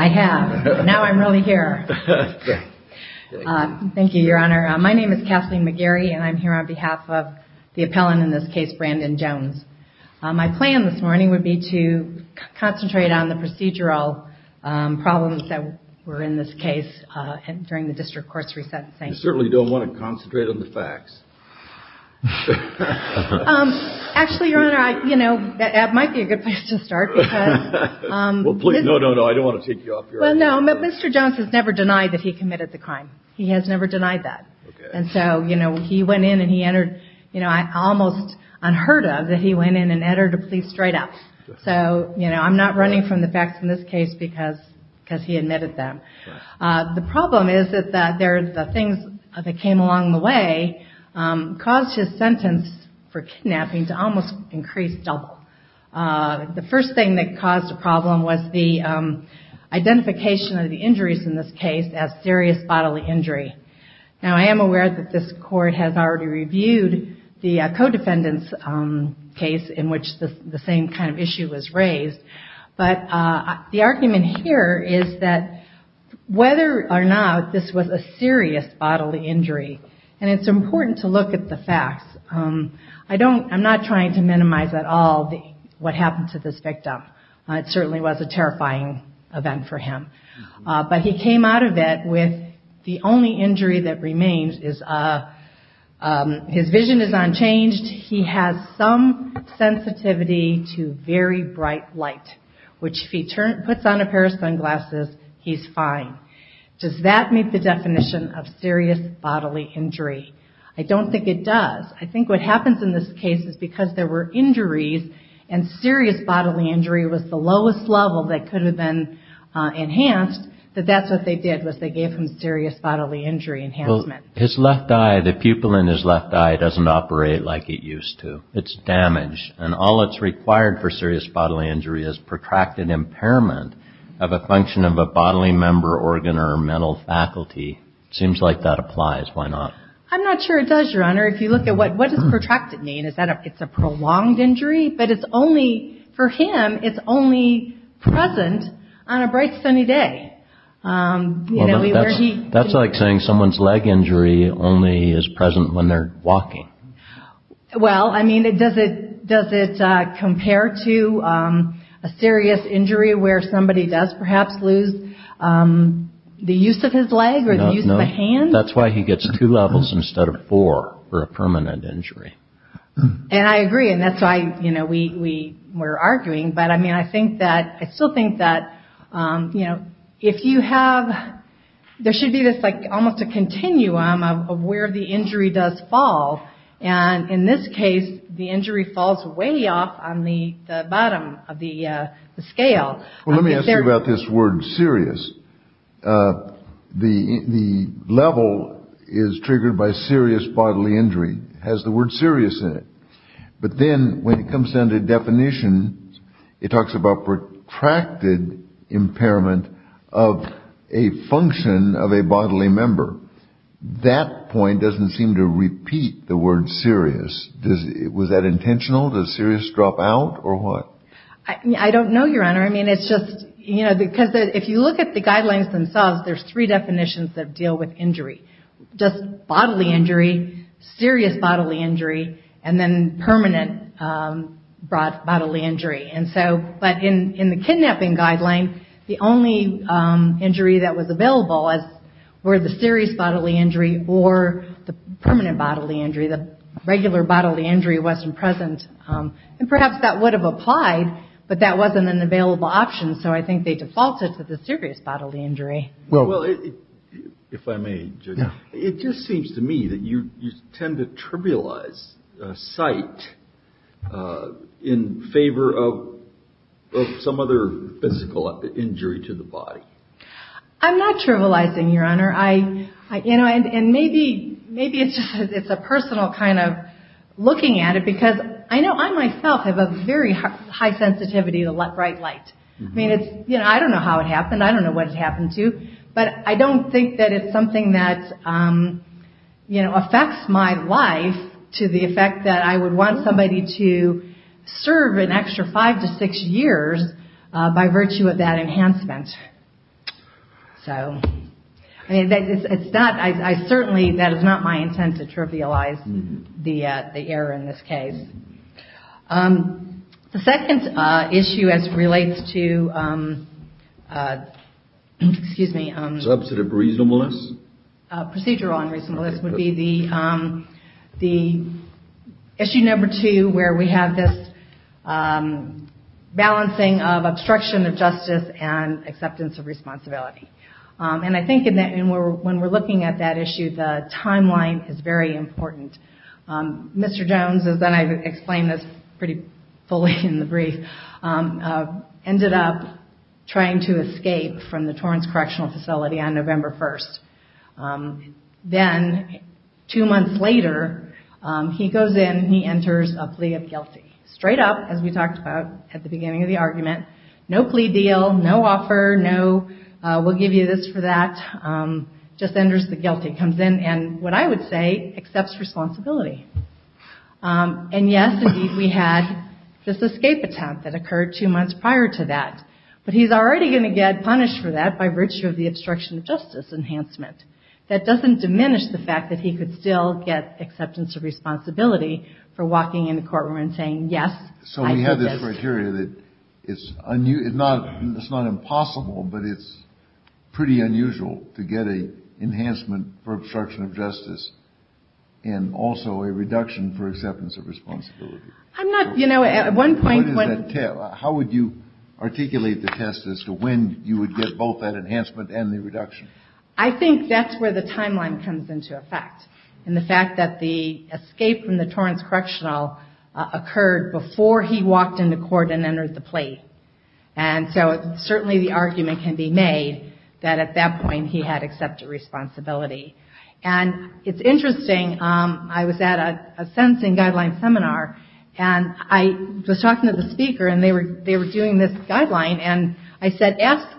I have. Now I'm really here. Thank you, Your Honor. My name is Kathleen McGarry and I'm here on behalf of the appellant in this case, Brandon Jones. My plan this morning would be to concentrate on the procedural problems that were in this case during the District Court's re-sentencing. You certainly don't want to concentrate on the facts. Actually, Your Honor, you know, that might be a good place to start. No, no, no, I don't want to take you off your honor. Well, no, Mr. Jones has never denied that he committed the crime. He has never denied that. And so, you know, he went in and he entered, you know, almost unheard of that he went in and entered a police straight up. So, you know, I'm not running from the facts in this case because he admitted them. The problem is that the things that came along the way caused his sentence for kidnapping to almost increase double. The first thing that caused the problem was the identification of the injuries in this case as serious bodily injury. Now I am aware that this Court has already reviewed the co-defendant's case in which the same kind of issue was raised. But the argument here is that whether or not this was a serious bodily injury, and it's important to look at the facts, I don't, I'm not trying to minimize at all what happened to this victim. It certainly was a terrifying event for him. But he came out of it with the only injury that remains is his vision is unchanged. He has some sensitivity to very bright light, which if he puts on a pair of sunglasses, he's fine. Does that meet the definition of serious bodily injury? I don't think it does. I think what happens in this case is because there were injuries and serious bodily injury was the lowest level that could have been enhanced, that that's what they did was they gave him serious bodily injury enhancement. His left eye, the pupil in his left eye doesn't operate like it used to. It's damaged and all that's required for serious bodily injury is protracted impairment of a function of a bodily member, organ or mental faculty. It seems like that applies. Why not? I'm not sure it does, Your Honor. If you look at what is protracted mean, it's a prolonged injury, but it's only, for him, it's only present on a bright sunny day. That's like saying someone's leg injury only is present when they're walking. Well, I mean, does it compare to a serious injury where somebody does perhaps lose the use of his leg or the use of a hand? That's why he gets two levels instead of four for a permanent injury. And I agree. And that's why, you know, we were arguing. But I mean, I think that I still think that, you know, if you have there should be this like almost a continuum of where the injury does fall. And in this case, the injury falls way off on the bottom of the scale. Well, let me ask you about this word serious. The the level is triggered by serious bodily injury, has the word serious in it. But then when it comes down to definition, it talks about protracted impairment of a function of a bodily member. That point doesn't seem to repeat the word serious. Was that intentional? Does serious drop out or what? I don't know, Your Honor. I mean, it's just, you know, because if you look at the guidelines themselves, there's three definitions that deal with injury. Just bodily injury, serious bodily injury, and then permanent bodily injury. And so, but in the kidnapping guideline, the only injury that was available was, were the serious bodily injury or the permanent bodily injury. The regular bodily injury wasn't present. And perhaps that would have applied, but that wasn't an available option. So I think they defaulted to the serious bodily injury. Well, if I may, Judge, it just seems to me that you tend to trivialize sight in favor of some other physical injury to the body. I'm not trivializing, Your Honor. I, you know, and maybe, maybe it's just, it's a personal kind of looking at it because I know I myself have a very high sensitivity to bright light. I mean, it's, you know, I don't know how it happened. I don't know what it happened to, but I don't think that it's something that, you know, affects my life to the effect that I would want somebody to serve an extra five to six years by virtue of that enhancement. So, I mean, it's not, I certainly, that is not my intent to trivialize the, the error in this case. The second issue as it relates to, excuse me. Substantive reasonableness? Procedural unreasonableness would be the, the issue number two, where we have this balancing of obstruction of justice and acceptance of responsibility. And I think that when we're looking at that issue, the timeline is very important. Mr. Jones, as I explained this pretty fully in the brief, ended up trying to escape from the Torrance Correctional Facility on November 1st. Then, two months later, he goes in, he enters a plea of guilty, straight up, as we talked about at the beginning of the argument, no plea deal, no offer, no we'll give you this for that, just enters the guilty, comes in and, what I would say, accepts responsibility. And yes, indeed, we had this escape attempt that occurred two months prior to that. But he's already going to get punished for that by virtue of the obstruction of justice enhancement. That doesn't diminish the fact that he could still get acceptance of responsibility for So we have this criteria that it's not impossible, but it's pretty unusual to get an enhancement for obstruction of justice, and also a reduction for acceptance of responsibility. I'm not, you know, at one point, How would you articulate the test as to when you would get both that enhancement and the reduction? I think that's where the timeline comes into effect. In the fact that the escape from the court, or he walked into court and entered the plea. And so, certainly the argument can be made that at that point, he had accepted responsibility. And it's interesting, I was at a sentencing guideline seminar, and I was talking to the speaker, and they were doing this guideline, and I said, ask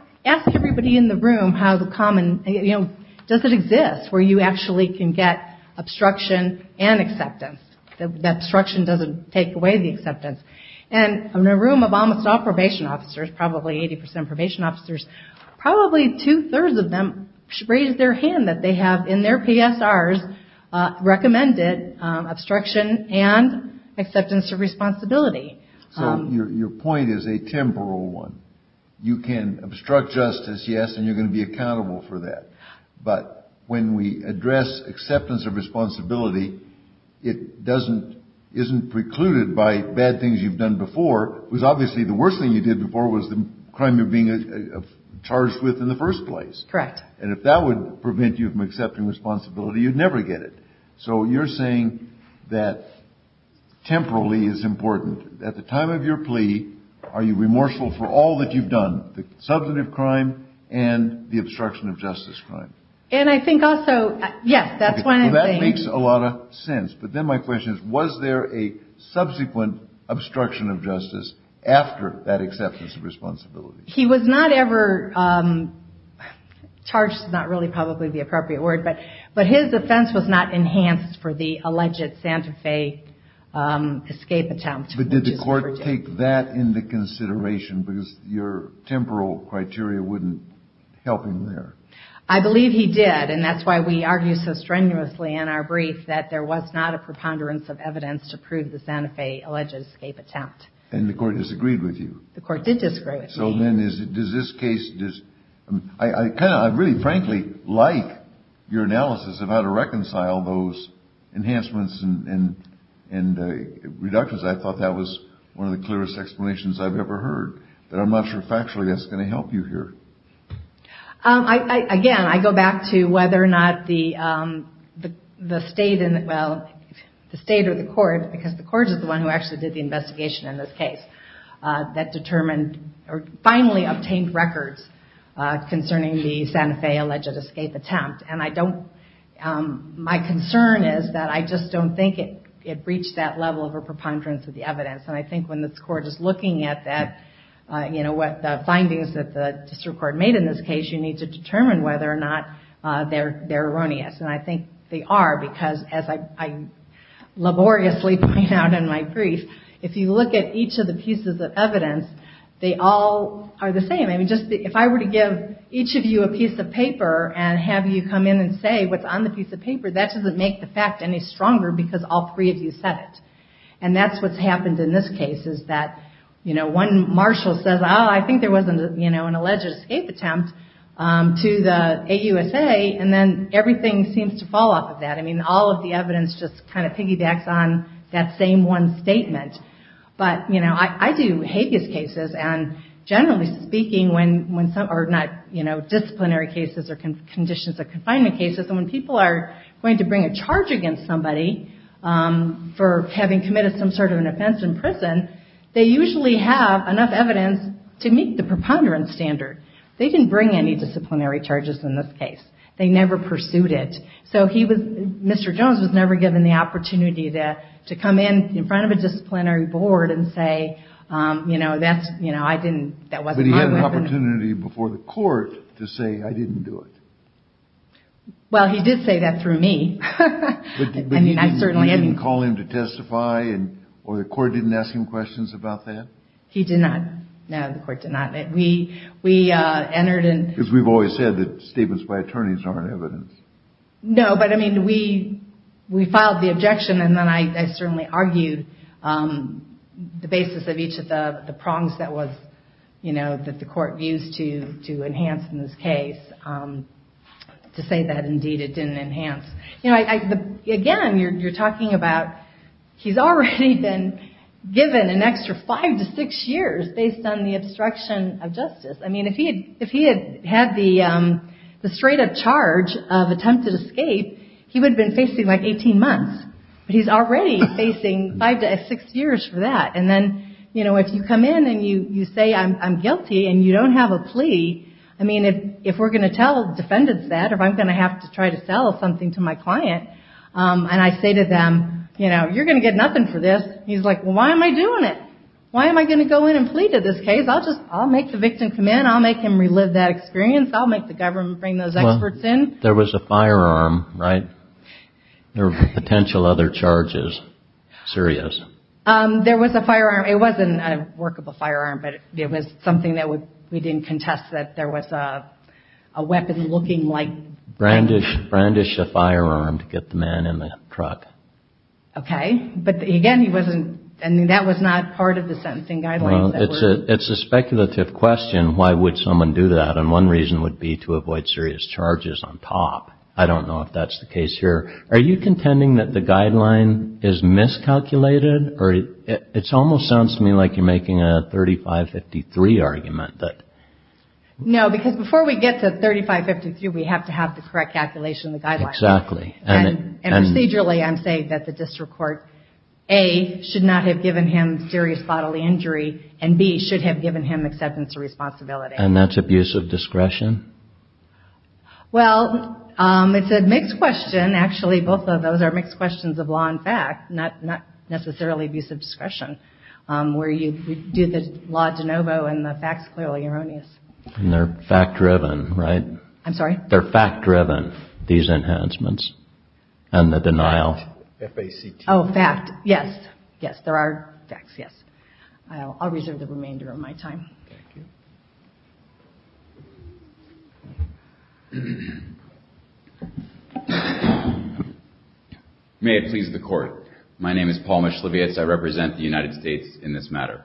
everybody in the room how the common, you know, does it exist where you actually can get obstruction and acceptance? That obstruction doesn't take away the acceptance. And in a room of almost all probation officers, probably 80% probation officers, probably two-thirds of them raised their hand that they have in their PSRs recommended obstruction and acceptance of responsibility. So your point is a temporal one. You can obstruct justice, yes, and you're going to be accountable for that. But when we address acceptance of responsibility, it doesn't, isn't precluded by bad things you've done before, because obviously the worst thing you did before was the crime you're being charged with in the first place. Correct. And if that would prevent you from accepting responsibility, you'd never get it. So you're saying that temporally is important. At the time of your plea, are you remorseful for all that you've done, the substantive crime and the obstruction of justice crime? And I think also, yes, that's one of the things. Okay. Well, that makes a lot of sense. But then my question is, was there a subsequent obstruction of justice after that acceptance of responsibility? He was not ever charged. It's not really probably the appropriate word, but his offense was not enhanced for the alleged Santa Fe escape attempt, which is what we're doing. Did he take that into consideration, because your temporal criteria wouldn't help him there? I believe he did, and that's why we argue so strenuously in our brief that there was not a preponderance of evidence to prove the Santa Fe alleged escape attempt. And the court disagreed with you? The court did disagree with me. So then, does this case, I really frankly like your analysis of how to reconcile those clearest explanations I've ever heard, but I'm not sure factually that's going to help you here. Again, I go back to whether or not the state or the court, because the court is the one who actually did the investigation in this case, that determined or finally obtained records concerning the Santa Fe alleged escape attempt. And my concern is that I just don't think it reached that level of a preponderance of the evidence, and I think when the court is looking at the findings that the district court made in this case, you need to determine whether or not they're erroneous. And I think they are, because as I laboriously point out in my brief, if you look at each of the pieces of evidence, they all are the same. If I were to give each of you a piece of paper and have you come in and say what's on the piece of paper, that doesn't make the fact any stronger, because all three of you said it. And that's what's happened in this case, is that one marshal says, oh, I think there was an alleged escape attempt to the AUSA, and then everything seems to fall off of that. I mean, all of the evidence just kind of piggybacks on that same one statement. But I do hate these cases, and generally speaking, when some, or not, disciplinary cases or conditions of confinement cases, when people are going to bring a charge against somebody for having committed some sort of an offense in prison, they usually have enough evidence to meet the preponderance standard. They didn't bring any disciplinary charges in this case. They never pursued it. So he was, Mr. Jones was never given the opportunity to come in in front of a disciplinary board and say, you know, that's, you know, I didn't, that wasn't my weapon. He didn't have the opportunity before the court to say, I didn't do it. Well, he did say that through me. I mean, I certainly didn't call him to testify, or the court didn't ask him questions about that? He did not. No, the court did not. We, we entered in. Because we've always said that statements by attorneys aren't evidence. No, but I mean, we, we filed the objection, and then I, I certainly argued the basis of each of the prongs that was, you know, that the court used to, to enhance in this case. To say that, indeed, it didn't enhance. You know, I, I, again, you're, you're talking about, he's already been given an extra five to six years based on the obstruction of justice. I mean, if he had, if he had had the, the straight up charge of attempted escape, he would have been facing like 18 months, but he's already facing five to six years for that. And then, you know, if you come in and you, you say, I'm, I'm guilty, and you don't have a plea, I mean, if, if we're going to tell defendants that, or if I'm going to have to try to sell something to my client, and I say to them, you know, you're going to get nothing for this. He's like, well, why am I doing it? Why am I going to go in and plea to this case? I'll just, I'll make the victim come in, I'll make him relive that experience, I'll make the government bring those experts in. There was a firearm, right? There were potential other charges, serious. There was a firearm. It wasn't a workable firearm, but it was something that would, we didn't contest that there was a, a weapon looking like. Brandish, brandish a firearm to get the man in the truck. Okay. But again, he wasn't, I mean, that was not part of the sentencing guidelines. It's a speculative question. Why would someone do that? And one reason would be to avoid serious charges on top. I don't know if that's the case here. Are you contending that the guideline is miscalculated or it's almost sounds to me like you're making a 3553 argument that. No, because before we get to 3553, we have to have the correct calculation of the guidelines. Exactly. And procedurally, I'm saying that the district court, A, should not have given him serious bodily injury and B, should have given him acceptance of responsibility. And that's abuse of discretion? Well, it's a mixed question. Actually, both of those are mixed questions of law and fact, not, not necessarily abuse of discretion, where you do the law de novo and the facts clearly erroneous. And they're fact driven, right? I'm sorry? They're fact driven, these enhancements and the denial. F-A-C-T. Oh, fact. Yes. Yes. There are facts. Yes. I'll reserve the remainder of my time. Thank you. May it please the court. My name is Paul Mischlevitz. I represent the United States in this matter.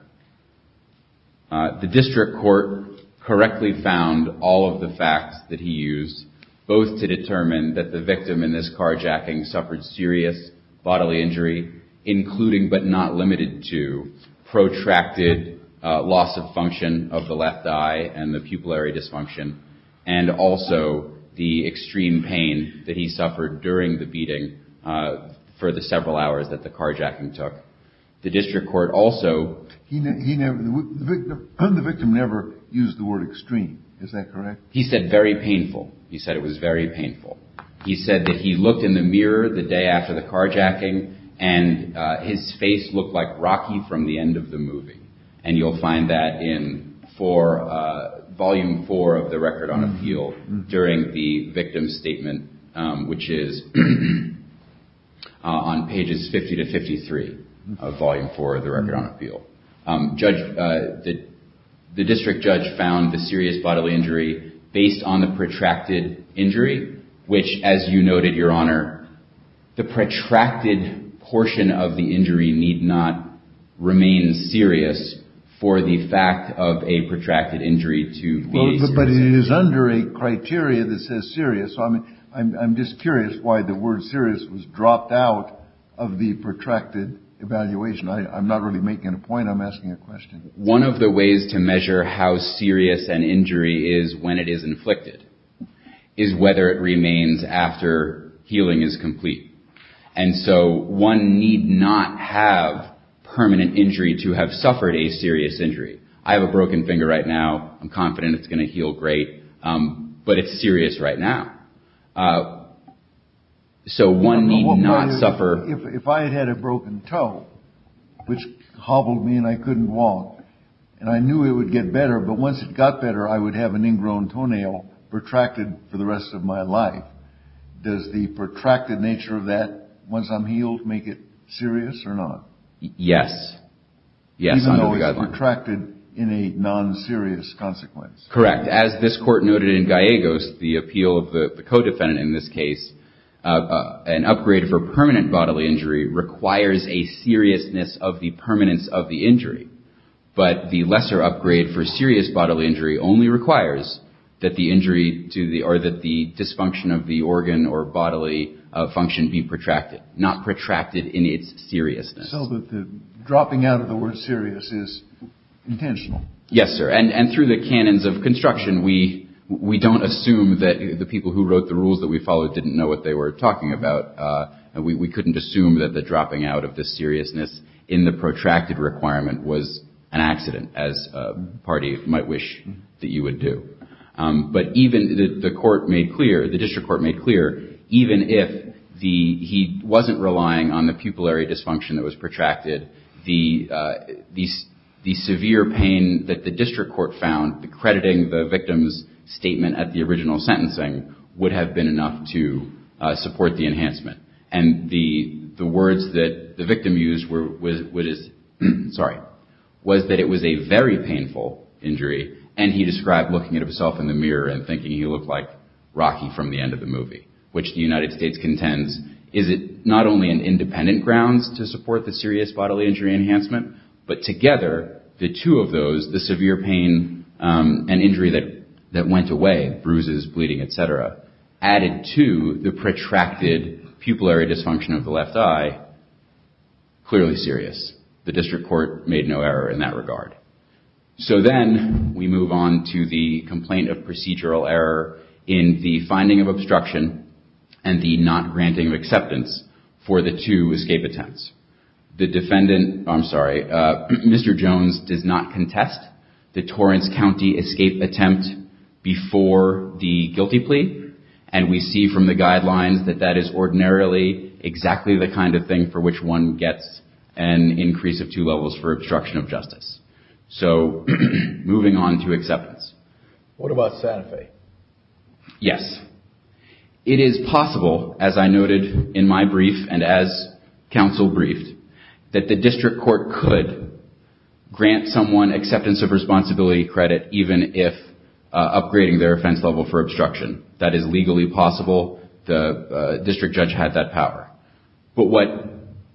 The district court correctly found all of the facts that he used, both to determine that the victim in this carjacking suffered serious bodily injury, including but not limited to protracted loss of function of the left eye and the pupillary dysfunction, and also the extreme pain that he suffered during the beating for the several hours that the carjacking took. The district court also- He never, the victim never used the word extreme, is that correct? He said very painful. He said it was very painful. He said that he looked in the mirror the day after the carjacking, and his face looked like Rocky from the end of the movie. And you'll find that in volume four of the record on appeal during the victim's statement, which is on pages 50 to 53 of volume four of the record on appeal. Judge, the district judge found the serious bodily injury based on the protracted injury, which, as you noted, Your Honor, the protracted portion of the injury need not remain serious for the fact of a protracted injury to be a serious injury. But it is under a criteria that says serious, so I'm just curious why the word serious was dropped out of the protracted evaluation. I'm not really making a point. I'm asking a question. One of the ways to measure how serious an injury is when it is inflicted is whether it remains after healing is complete. And so one need not have permanent injury to have suffered a serious injury. I have a broken finger right now. I'm confident it's going to heal great, but it's serious right now. So one need not suffer. If I had had a broken toe, which hobbled me and I couldn't walk, and I knew it would get better, but once it got better, I would have an ingrown toenail protracted for the rest of my life. Does the protracted nature of that, once I'm healed, make it serious or not? Yes. Even though it's protracted in a non-serious consequence. Correct. As this court noted in Gallegos, the appeal of the co-defendant in this case, an upgrade for permanent bodily injury requires a seriousness of the permanence of the injury. But the lesser upgrade for serious bodily injury only requires that the injury to the or that the dysfunction of the organ or bodily function be protracted, not protracted in its seriousness. So the dropping out of the word serious is intentional. Yes, sir. And through the canons of construction, we don't assume that the people who wrote the rules that we followed didn't know what they were talking about. We couldn't assume that the dropping out of the seriousness in the protracted requirement was an accident, as a party might wish that you would do. But even the court made clear, the district court made clear, even if the he wasn't relying on the pupillary dysfunction that was protracted, the severe pain that the district court found, crediting the victim's statement at the original sentencing, would have been enough to support the enhancement. And the words that the victim used was, sorry, was that it was a very painful injury. And he described looking at himself in the mirror and thinking he looked like Rocky from the end of the movie, which the United States contends is it not only an independent grounds to support the serious bodily injury enhancement, but together, the two of them, the pain and injury that went away, bruises, bleeding, et cetera, added to the protracted pupillary dysfunction of the left eye, clearly serious. The district court made no error in that regard. So then we move on to the complaint of procedural error in the finding of obstruction and the not granting of acceptance for the two escape attempts. The defendant, I'm sorry, Mr. Jones does not contest the Torrance County escape attempt before the guilty plea. And we see from the guidelines that that is ordinarily exactly the kind of thing for which one gets an increase of two levels for obstruction of justice. So moving on to acceptance. What about Santa Fe? Yes. It is possible, as I noted in my brief and as counsel briefed, that the district court could grant someone acceptance of responsibility credit even if upgrading their offense level for obstruction. That is legally possible. The district judge had that power. But what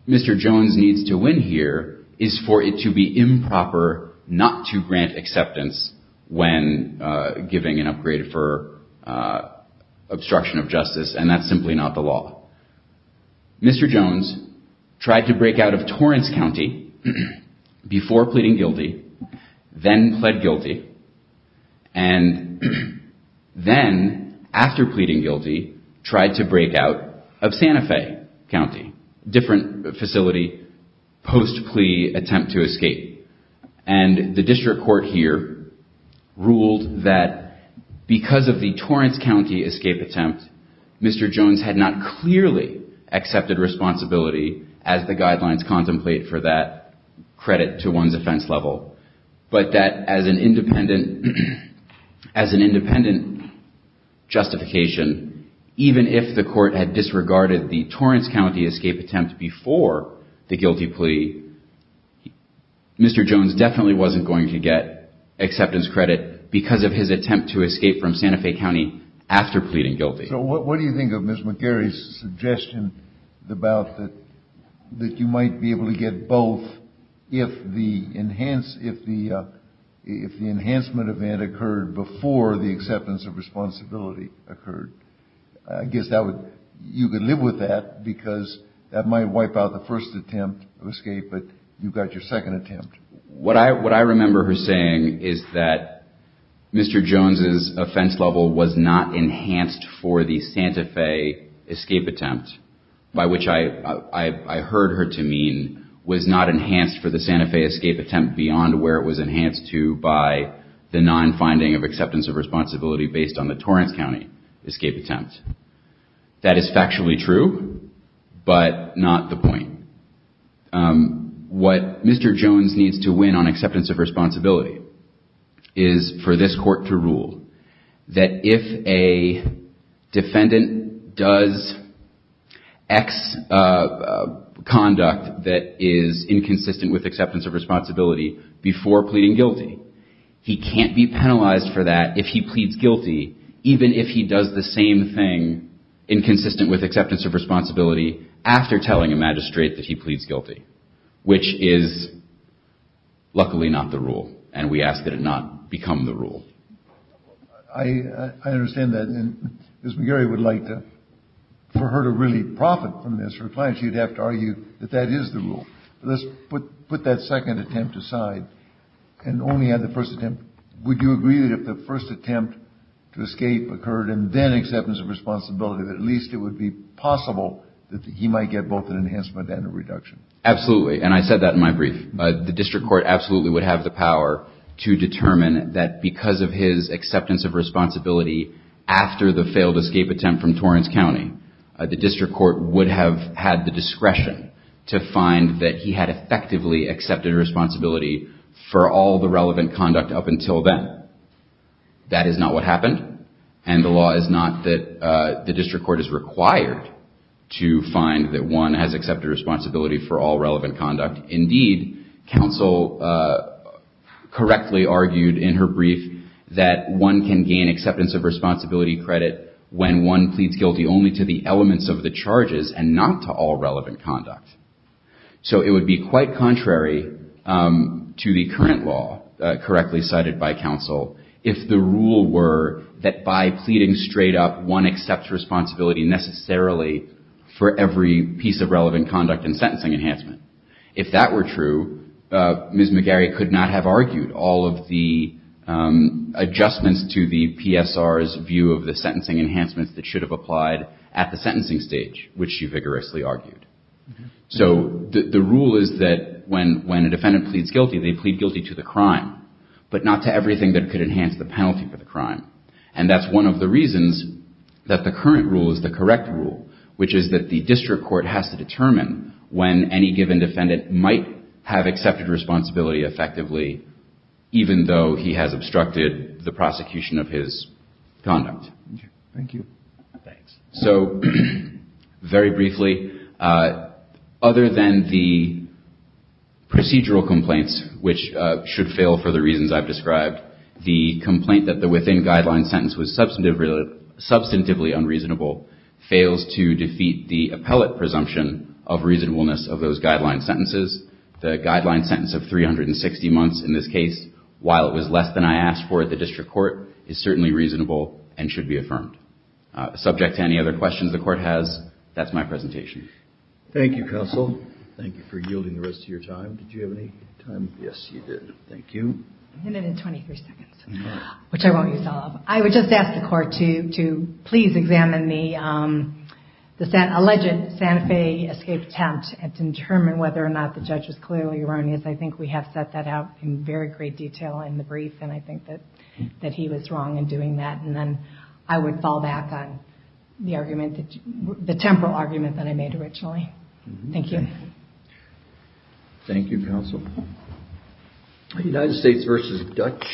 Mr. Jones needs to win here is for it to be improper not to grant acceptance when giving an upgrade for obstruction of justice. And that's simply not the law. Mr. Jones tried to break out of Torrance County before pleading guilty, then pled guilty. And then after pleading guilty, tried to break out of Santa Fe County, different facility post plea attempt to escape. And the district court here ruled that because of the Torrance County escape attempt, Mr. Jones had not clearly accepted responsibility as the guidelines contemplate for that credit to one's offense level, but that as an independent justification, even if the court had Mr. Jones definitely wasn't going to get acceptance credit because of his attempt to escape from Santa Fe County after pleading guilty. So what do you think of Ms. McGarry's suggestion about that you might be able to get both if the enhancement event occurred before the acceptance of responsibility occurred? I guess you could live with that because that might wipe out the first attempt of escape, but you've got your second attempt. What I remember her saying is that Mr. Jones's offense level was not enhanced for the Santa Fe escape attempt, by which I heard her to mean was not enhanced for the Santa Fe escape attempt beyond where it was enhanced to by the non-finding of acceptance of responsibility based on the Torrance County escape attempt. That is factually true, but not the point. What Mr. Jones needs to win on acceptance of responsibility is for this court to rule that if a defendant does X conduct that is inconsistent with acceptance of responsibility before pleading guilty, he can't be penalized for that if he pleads guilty, even if he does the same thing inconsistent with acceptance of responsibility after telling a magistrate that he pleads guilty. Which is luckily not the rule, and we ask that it not become the rule. I understand that. And Ms. McGarry would like to, for her to really profit from this, her client, she'd have to argue that that is the rule. Let's put that second attempt aside and only add the first attempt. Would you agree that if the first attempt to escape occurred and then acceptance of responsibility, that at least it would be possible that he might get both an enhancement and a reduction? Absolutely. And I said that in my brief, the district court absolutely would have the power to determine that because of his acceptance of responsibility after the failed escape attempt from Torrance County, the district court would have had the discretion to find that he had effectively accepted responsibility for all the relevant conduct up until then. That is not what happened. And the law is not that the district court is required to find that one has accepted responsibility for all relevant conduct. Indeed, counsel correctly argued in her brief that one can gain acceptance of responsibility credit when one pleads guilty only to the elements of the charges and not to all relevant conduct. So it would be quite contrary to the current law, correctly cited by counsel, if the rule were that by pleading straight up, one accepts responsibility necessarily for every piece of relevant conduct and sentencing enhancement. If that were true, Ms. McGarry could not have argued all of the adjustments to the PSR's view of the sentencing enhancements that should have applied at the sentencing stage, which she vigorously argued. So the rule is that when a defendant pleads guilty, they plead guilty to the crime, but not to everything that could enhance the penalty for the crime. And that's one of the reasons that the current rule is the correct rule, which is that the district court has to determine when any given defendant might have accepted responsibility effectively, even though he has obstructed the prosecution of his conduct. Thank you. Thanks. So very briefly, other than the procedural complaints, which should fail for the reasons I've described, the complaint that the within guideline sentence was the appellate presumption of reasonableness of those guideline sentences, the guideline sentence of 360 months in this case, while it was less than I asked for at the district court, is certainly reasonable and should be affirmed. Subject to any other questions the court has, that's my presentation. Thank you, counsel. Thank you for yielding the rest of your time. Did you have any time? Yes, you did. Thank you. And then in 23 seconds, which I won't use all of. I would just ask the court to please examine the alleged Santa Fe escape attempt and determine whether or not the judge was clearly erroneous. I think we have set that out in very great detail in the brief, and I think that he was wrong in doing that. And then I would fall back on the argument, the temporal argument that I made originally. Thank you. Thank you, counsel. United States versus Dutch.